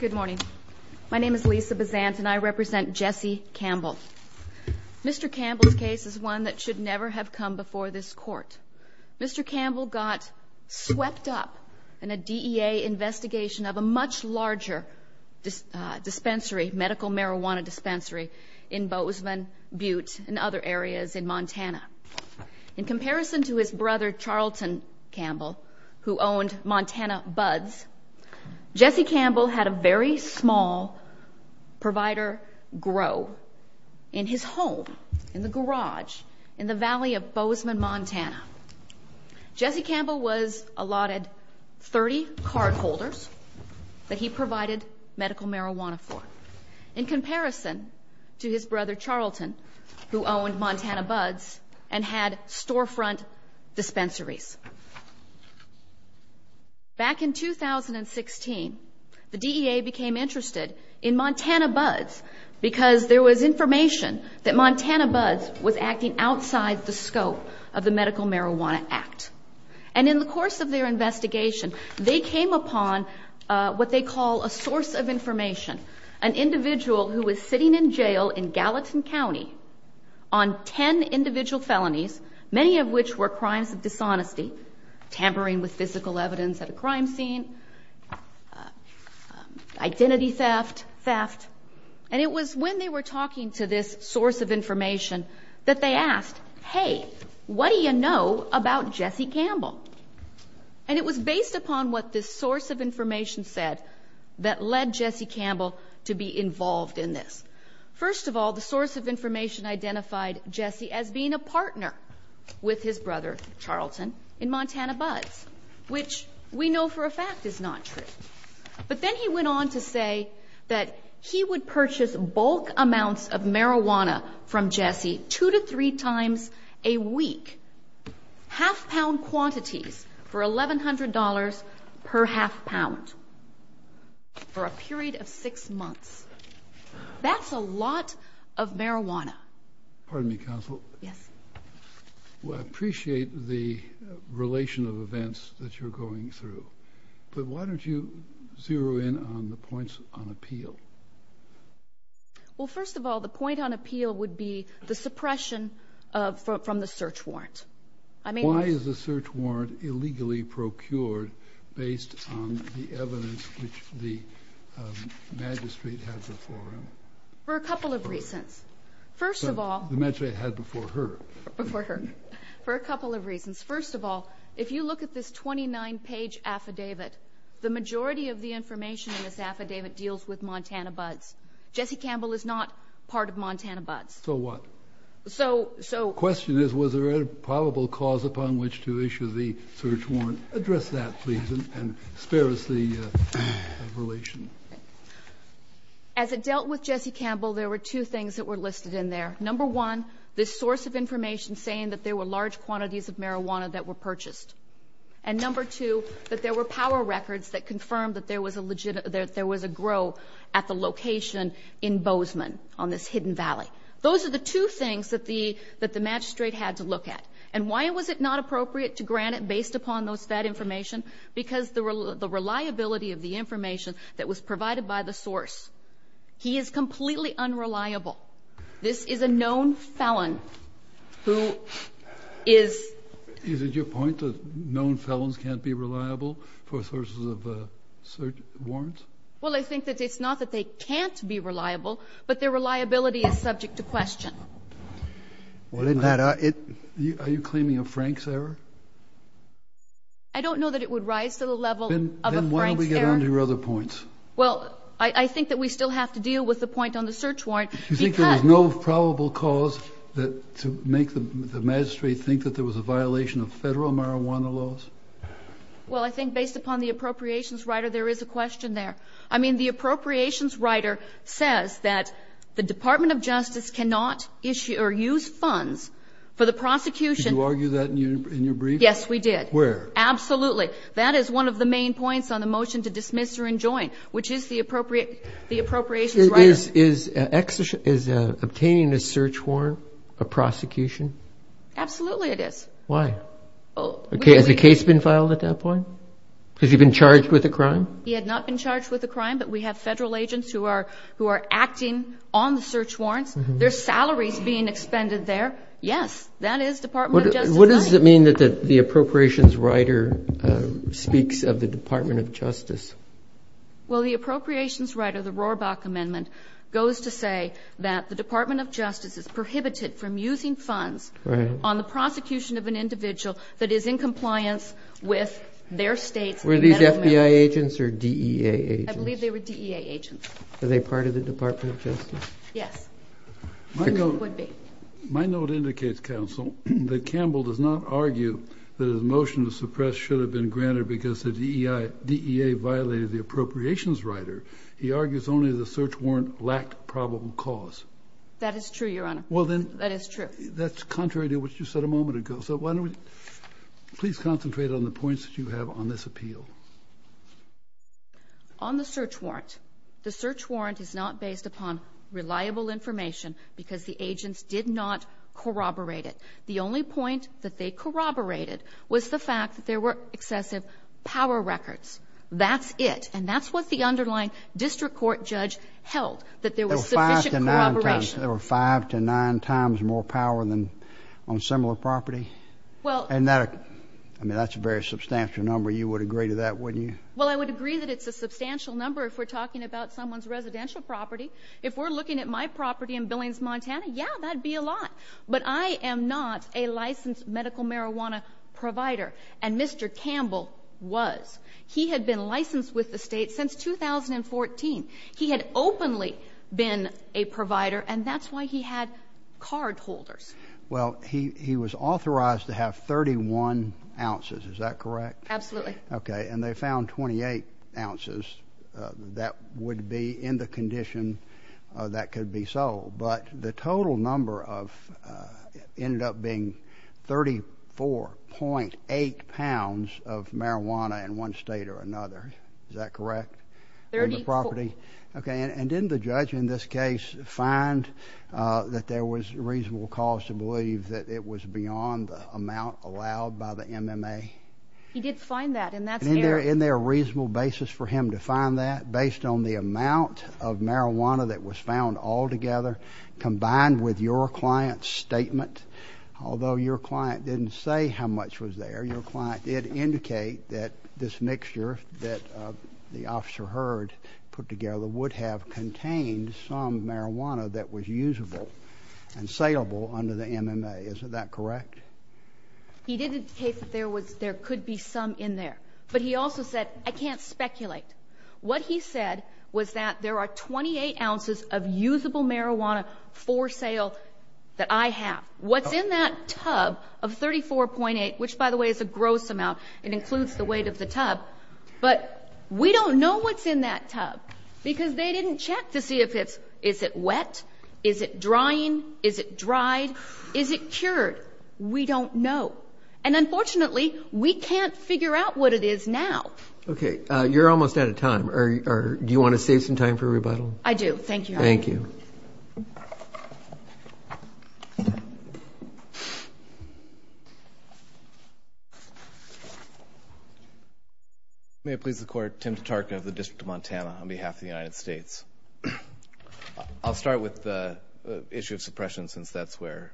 Good morning. My name is Lisa Bazant and I represent Jesse Campbell. Mr. Campbell's case is one that should never have come before this court. Mr. Campbell got swept up in a DEA investigation of a much larger dispensary, medical marijuana dispensary, in Bozeman, Butte, and other areas in Montana. In comparison to his brother, Charlton Campbell, who owned Montana Buds, Jesse Campbell had a very small provider grow in his home, in the garage, in the valley of Bozeman, Montana. Jesse Campbell was allotted 30 cardholders that he provided medical marijuana for, in comparison to his brother, Charlton, who owned Montana Buds and had storefront dispensaries. Back in 2016, the DEA became interested in Montana Buds because there was information that Montana Buds was acting outside the scope of the Medical Marijuana Act. And in the course of their investigation, they came upon what they call a source of information, an individual who was sitting in jail in Gallatin County on 10 individual felonies, many of which were crimes of dishonesty, tampering with physical evidence at a crime scene, identity theft, theft. And it was when they were talking to this source of information that they asked, hey, what do you know about Jesse Campbell? And it was based upon what this source of information said that led Jesse Campbell to be involved in this. First of all, the source of information identified Jesse as being a partner with his brother, Charlton, in Montana Buds, which we know for a fact is not true. But then he went on to say that he would purchase bulk amounts of marijuana from Jesse two to three times a week, half pound quantities for $1,100 per half pound for a period of six months. That's a lot of marijuana. Pardon me, Counsel. Yes. Well, I appreciate the relation of events that you're going through. But why don't you zero in on the points on appeal? Well, first of all, the point on appeal would be the suppression from the search warrant. Why is the search warrant illegally procured based on the evidence which the magistrate had before him? For a couple of reasons. First of all... The magistrate had before her. Before her. For a couple of reasons. First of all, if you look at this 29-page affidavit, the majority of the information in this affidavit deals with Montana Buds. Jesse Campbell is not part of Montana Buds. So what? The question is, was there a probable cause upon which to issue the search warrant? Address that, please, and spare us the relation. As it dealt with Jesse Campbell, there were two things that were listed in there. Number one, this source of information saying that there were large quantities of marijuana that were purchased. And number two, that there were power records that confirmed that there was a grow at the location in Bozeman on this hidden valley. Those are the two things that the magistrate had to look at. And why was it not appropriate to grant it based upon those fed information? Because the reliability of the information that was provided by the source. He is completely unreliable. This is a known felon who is... Is it your point that known felons can't be reliable for sources of search warrants? Well, I think that it's not that they can't be reliable, but their reliability is subject to question. Well, isn't that... Are you claiming a Frank's error? I don't know that it would rise to the level of a Frank's error. Then why don't we get on to your other points? Well, I think that we still have to deal with the point on the search warrant because... You think there was no probable cause to make the magistrate think that there was a violation of Federal marijuana laws? Well, I think based upon the appropriations writer, there is a question there. I mean, the appropriations writer says that the Department of Justice cannot issue or use funds for the prosecution... Did you argue that in your brief? Yes, we did. Where? Absolutely. That is one of the main points on the motion to dismiss or enjoin, which is the appropriations writer. Is obtaining a search warrant a prosecution? Absolutely it is. Why? Has a case been filed at that point? Has he been charged with a crime? He had not been charged with a crime, but we have Federal agents who are acting on the search warrants. There are salaries being expended there. Yes, that is Department of Justice's right. What does it mean that the appropriations writer speaks of the Department of Justice? Well, the appropriations writer, the Rohrbach Amendment, goes to say that the Department of Justice is prohibited from using funds... Right. ...on the prosecution of an individual that is in compliance with their state's... Were these FBI agents or DEA agents? I believe they were DEA agents. Are they part of the Department of Justice? Yes, they would be. My note indicates, Counsel, that Campbell does not argue that his motion to suppress should have been granted because the DEA violated the appropriations writer. He argues only the search warrant lacked probable cause. That is true, Your Honor. Well, then... That is true. ...that's contrary to what you said a moment ago. So why don't we please concentrate on the points that you have on this appeal. On the search warrant, the search warrant is not based upon reliable information because the agents did not corroborate it. The only point that they corroborated was the fact that there were excessive power records. That's it. And that's what the underlying district court judge held, that there was sufficient corroboration. There were five to nine times more power than on similar property? Well... And that's a very substantial number. You would agree to that, wouldn't you? Well, I would agree that it's a substantial number if we're talking about someone's residential property. If we're looking at my property in Billings, Montana, yeah, that would be a lot. But I am not a licensed medical marijuana provider, and Mr. Campbell was. He had been licensed with the state since 2014. He had openly been a provider, and that's why he had card holders. Well, he was authorized to have 31 ounces. Is that correct? Absolutely. Okay. And they found 28 ounces that would be in the condition that could be sold. But the total number ended up being 34.8 pounds of marijuana in one state or another. Is that correct? In the property? 34. Okay. And didn't the judge in this case find that there was reasonable cause to believe that it was beyond the amount allowed by the MMA? He did find that, and that's there. And isn't there a reasonable basis for him to find that? Based on the amount of marijuana that was found altogether, combined with your client's statement, although your client didn't say how much was there, your client did indicate that this mixture that the officer heard put together would have contained some marijuana that was usable and saleable under the MMA. Isn't that correct? He did indicate that there could be some in there. But he also said, I can't speculate. What he said was that there are 28 ounces of usable marijuana for sale that I have. What's in that tub of 34.8, which, by the way, is a gross amount, it includes the weight of the tub, but we don't know what's in that tub because they didn't check to see if it's wet, is it drying, is it dried, is it cured. We don't know. And unfortunately, we can't figure out what it is now. Okay. You're almost out of time. Do you want to save some time for a rebuttal? I do. Thank you. Thank you. May it please the Court, Tim Tatarka of the District of Montana on behalf of the United States. I'll start with the issue of suppression since that's where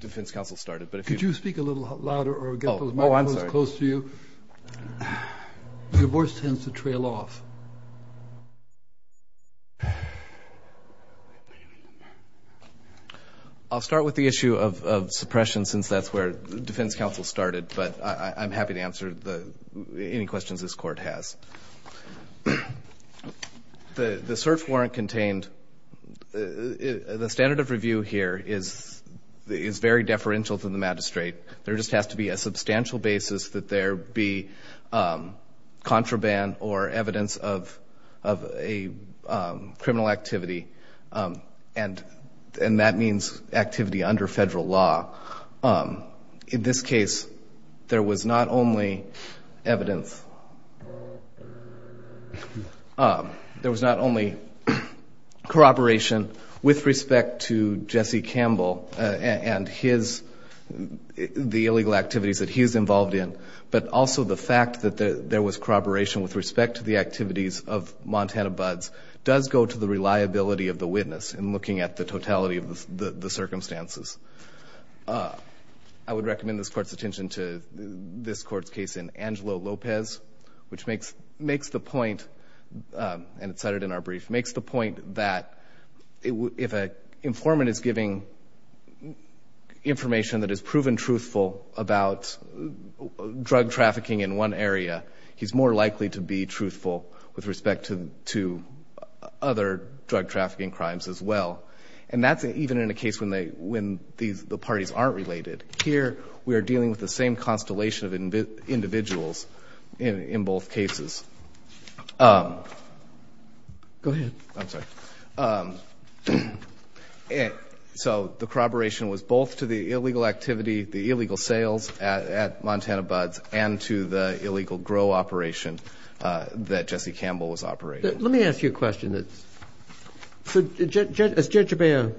defense counsel started. Could you speak a little louder or get those microphones close to you? Your voice tends to trail off. I'll start with the issue of suppression since that's where defense counsel started, but I'm happy to answer any questions this Court has. The cert warrant contained, the standard of review here is very deferential to the magistrate. There just has to be a substantial basis that there be contraband or evidence of a criminal activity, and that means activity under federal law. In this case, there was not only evidence. There was not only corroboration with respect to Jesse Campbell and the illegal activities that he is involved in, but also the fact that there was corroboration with respect to the activities of Montana Buds does go to the reliability of the witness in looking at the totality of the circumstances. I would recommend this Court's attention to this Court's case in Angelo Lopez, which makes the point, and it's cited in our brief, makes the point that if an informant is giving information that is proven truthful about drug trafficking in one area, he's more likely to be truthful with respect to other drug trafficking crimes as well. And that's even in a case when the parties aren't related. Here we are dealing with the same constellation of individuals in both cases. Go ahead. I'm sorry. So the corroboration was both to the illegal activity, the illegal sales at Montana Buds, and to the illegal grow operation that Jesse Campbell was operating. Let me ask you a question. So Judge Jabea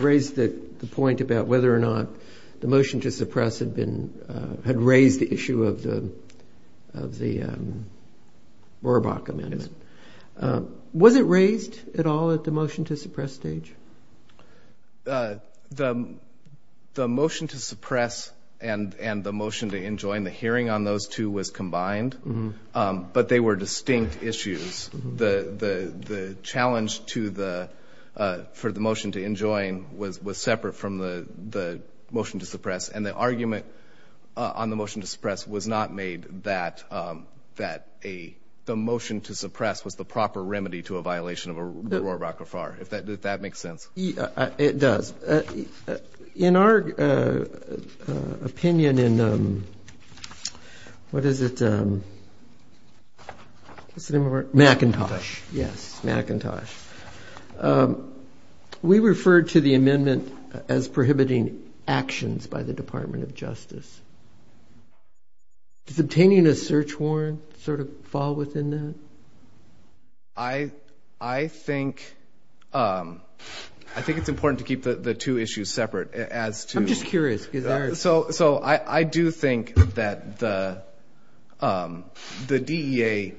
raised the point about whether or not the motion to suppress had raised the issue of the Rohrabach Amendment. Was it raised at all at the motion to suppress stage? The motion to suppress and the motion to enjoin the hearing on those two was combined, but they were distinct issues. The challenge for the motion to enjoin was separate from the motion to suppress, and the argument on the motion to suppress was not made that the motion to suppress was the proper remedy to a violation of the Rohrabach Affair, if that makes sense. It does. In our opinion in, what is it? What's the name of our? McIntosh. Yes, McIntosh. We refer to the amendment as prohibiting actions by the Department of Justice. Does obtaining a search warrant sort of fall within that? I think it's important to keep the two issues separate. I'm just curious. So I do think that the DEA,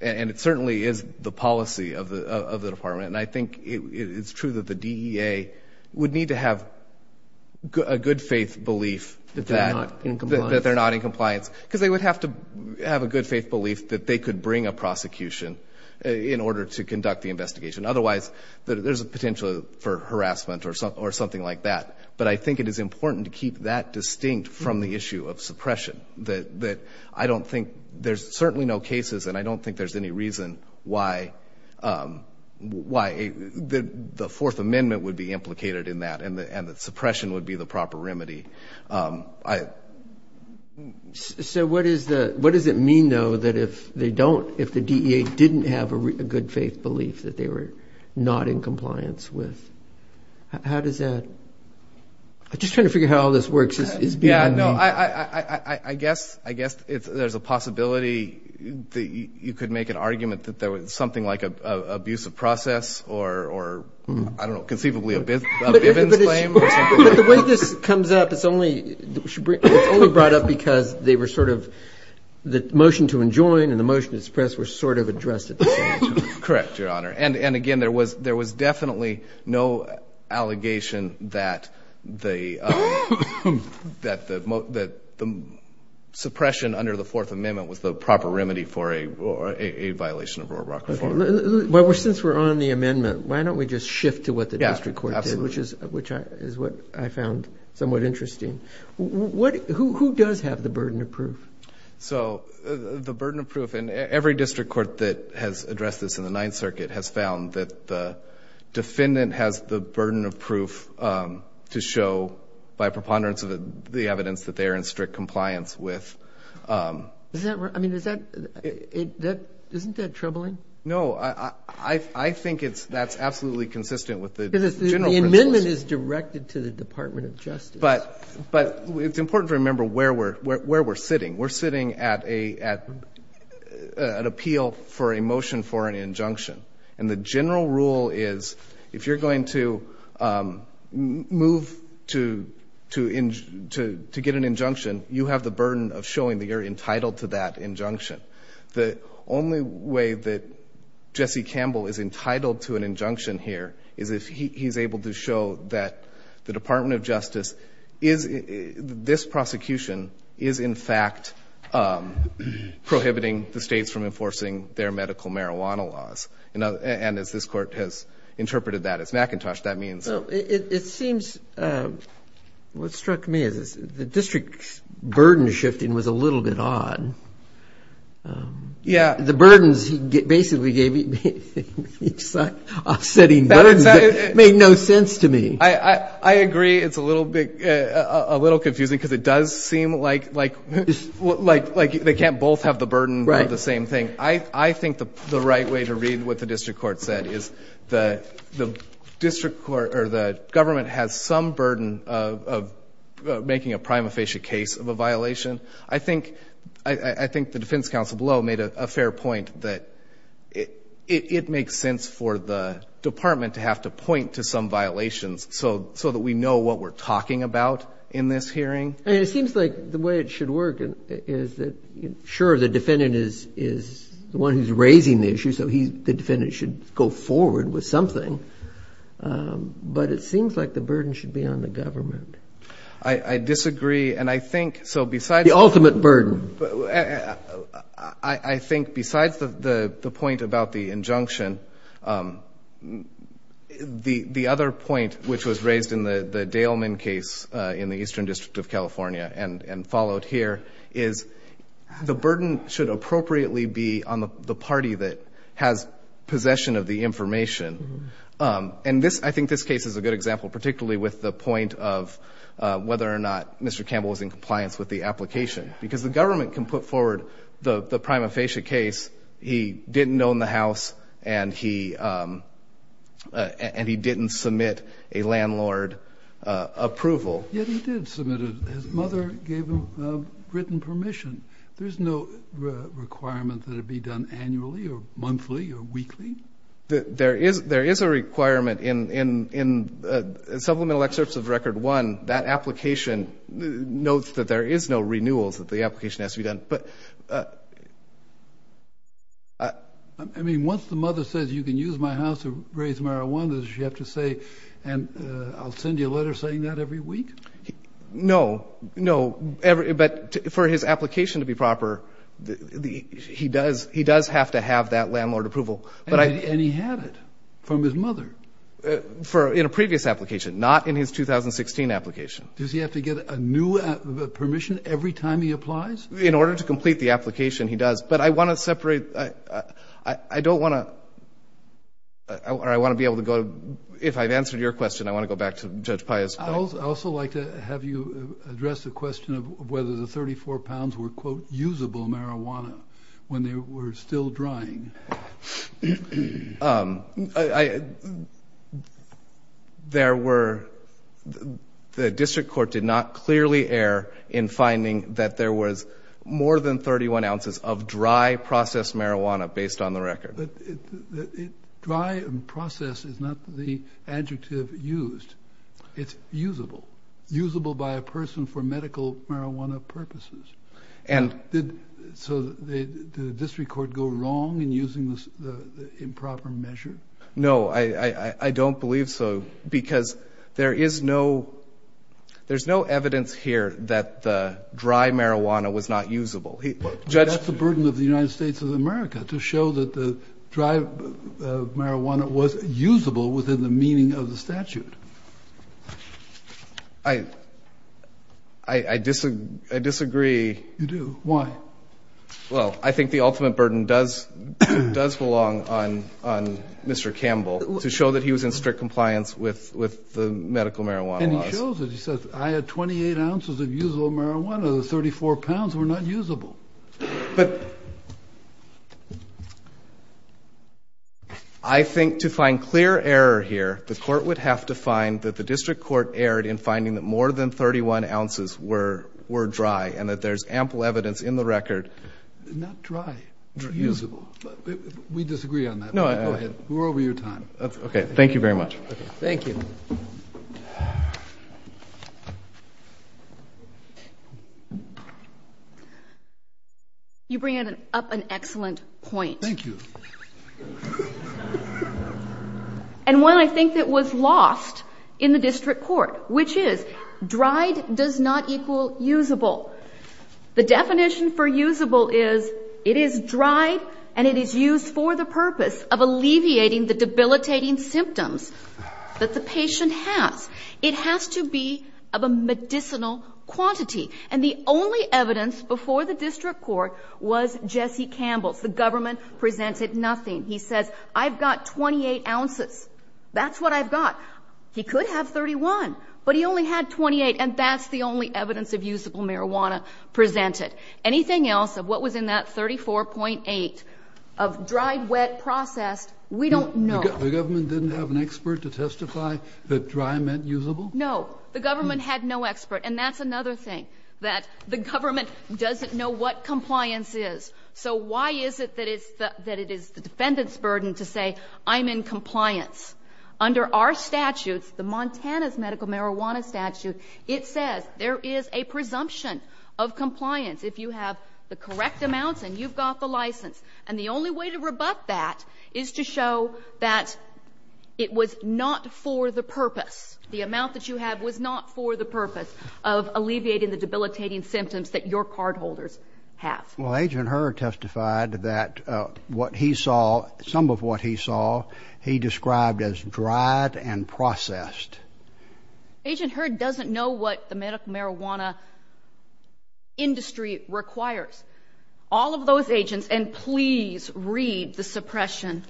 and it certainly is the policy of the Department, and I think it's true that the DEA would need to have a good faith belief that they're not in compliance because they would have to have a good faith belief that they could bring a prosecution in order to conduct the investigation. Otherwise, there's a potential for harassment or something like that. But I think it is important to keep that distinct from the issue of suppression, that I don't think there's certainly no cases, and I don't think there's any reason why the Fourth Amendment would be implicated in that and that suppression would be the proper remedy. So what does it mean, though, that if they don't, if the DEA didn't have a good faith belief that they were not in compliance with? How does that? I'm just trying to figure out how all this works. Yeah, no, I guess there's a possibility that you could make an argument that there was something like an abusive process or, I don't know, conceivably a Bivens claim or something like that. But the way this comes up, it's only brought up because they were sort of, the motion to enjoin and the motion to suppress were sort of addressed at the same time. Correct, Your Honor. And, again, there was definitely no allegation that the suppression under the Fourth Amendment was the proper remedy for a violation of Roebuck reform. Well, since we're on the amendment, why don't we just shift to what the district court did, which is what I found somewhat interesting. Who does have the burden of proof? So the burden of proof, and every district court that has addressed this in the Ninth Circuit has found that the defendant has the burden of proof to show, by preponderance of it, the evidence that they are in strict compliance with. I mean, isn't that troubling? No, I think that's absolutely consistent with the general principle. The amendment is directed to the Department of Justice. But it's important to remember where we're sitting. We're sitting at an appeal for a motion for an injunction, and the general rule is if you're going to move to get an injunction, you have the burden of showing that you're entitled to that injunction. The only way that Jesse Campbell is entitled to an injunction here is if he's able to show that the Department of Justice is, this prosecution is in fact prohibiting the states from enforcing their medical marijuana laws. And as this Court has interpreted that as Macintosh, that means. It seems, what struck me is the district's burden shifting was a little bit odd. Yeah. The burdens he basically gave each side. Offsetting burdens made no sense to me. I agree it's a little confusing because it does seem like they can't both have the burden of the same thing. I think the right way to read what the district court said is the district court or the government has some burden of making a prima facie case of a violation. I think the defense counsel below made a fair point that it makes sense for the department to have to point to some violations so that we know what we're talking about in this hearing. It seems like the way it should work is that, sure, the defendant is the one who's raising the issue, so the defendant should go forward with something. But it seems like the burden should be on the government. I disagree. The ultimate burden. I think besides the point about the injunction, the other point, which was raised in the Daleman case in the Eastern District of California and followed here is the burden should appropriately be on the party that has possession of the information. I think this case is a good example, particularly with the point of whether or not Mr. Campbell was in compliance with the application. Because the government can put forward the prima facie case he didn't own the house and he didn't submit a landlord approval. Yet he did submit it. His mother gave him written permission. There is a requirement in supplemental excerpts of record one, that application notes that there is no renewals that the application has to be done. I mean, once the mother says you can use my house to raise marijuana, does she have to say, and I'll send you a letter saying that every week? No, no. But for his application to be proper, he does have to have that landlord approval. And he had it from his mother? In a previous application. Not in his 2016 application. Does he have to get a new permission every time he applies? In order to complete the application, he does. But I want to separate. I don't want to, or I want to be able to go, if I've answered your question, I want to go back to Judge Pius. I'd also like to have you address the question of whether the 34 pounds were, quote, usable marijuana when they were still drying. There were, the district court did not clearly err in finding that there was more than 31 ounces of dry processed marijuana based on the record. Dry and processed is not the adjective used. It's usable. Usable by a person for medical marijuana purposes. So did the district court go wrong in using the improper measure? No, I don't believe so because there is no, there's no evidence here that the dry marijuana was not usable. That's the burden of the United States of America, to show that the dry marijuana was usable within the meaning of the statute. I disagree. You do? Why? Well, I think the ultimate burden does belong on Mr. Campbell, to show that he was in strict compliance with the medical marijuana laws. And he shows it. He says, I had 28 ounces of usable marijuana. The 34 pounds were not usable. But I think to find clear error here, the court would have to find that the district court erred in finding that more than 31 ounces were dry and that there's ample evidence in the record. Not dry, usable. We disagree on that. Go ahead. We're over your time. Thank you very much. Thank you. You bring up an excellent point. Thank you. And one I think that was lost in the district court, which is dried does not equal usable. The definition for usable is it is dried and it is used for the purpose of It has to be of a medicinal quantity. And the only evidence before the district court was Jesse Campbell's. The government presented nothing. He says, I've got 28 ounces. That's what I've got. He could have 31, but he only had 28. And that's the only evidence of usable marijuana presented. Anything else of what was in that 34.8 of dried, wet, processed, we don't know. The government didn't have an expert to testify that dry meant usable? No. The government had no expert. And that's another thing, that the government doesn't know what compliance is. So why is it that it is the defendant's burden to say I'm in compliance? Under our statutes, the Montana's medical marijuana statute, it says there is a presumption of compliance if you have the correct amounts and you've got the license. And the only way to rebut that is to show that it was not for the purpose. The amount that you have was not for the purpose of alleviating the debilitating symptoms that your cardholders have. Well, Agent Hurd testified that what he saw, some of what he saw, he described as dried and processed. Agent Hurd doesn't know what the medical marijuana industry requires. All of those agents, and please read the suppression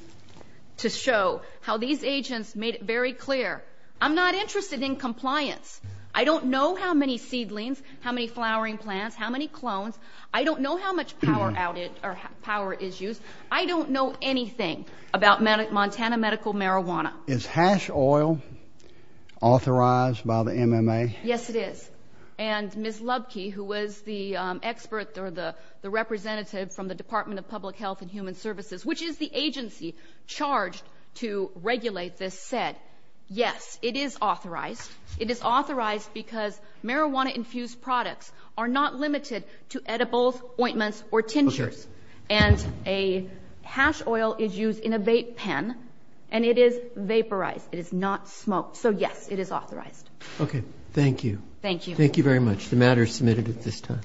to show how these agents made it very clear. I'm not interested in compliance. I don't know how many seedlings, how many flowering plants, how many clones. I don't know how much power is used. I don't know anything about Montana medical marijuana. Is hash oil authorized by the MMA? Yes, it is. And Ms. Lubke, who was the expert or the representative from the Department of Public Health and Human Services, which is the agency charged to regulate this, said, yes, it is authorized. It is authorized because marijuana-infused products are not limited to edibles, ointments, or tinctures. And a hash oil is used in a vape pen, and it is vaporized. It is not smoked. So, yes, it is authorized. Okay. Thank you. Thank you. Thank you very much. The matter is submitted at this time.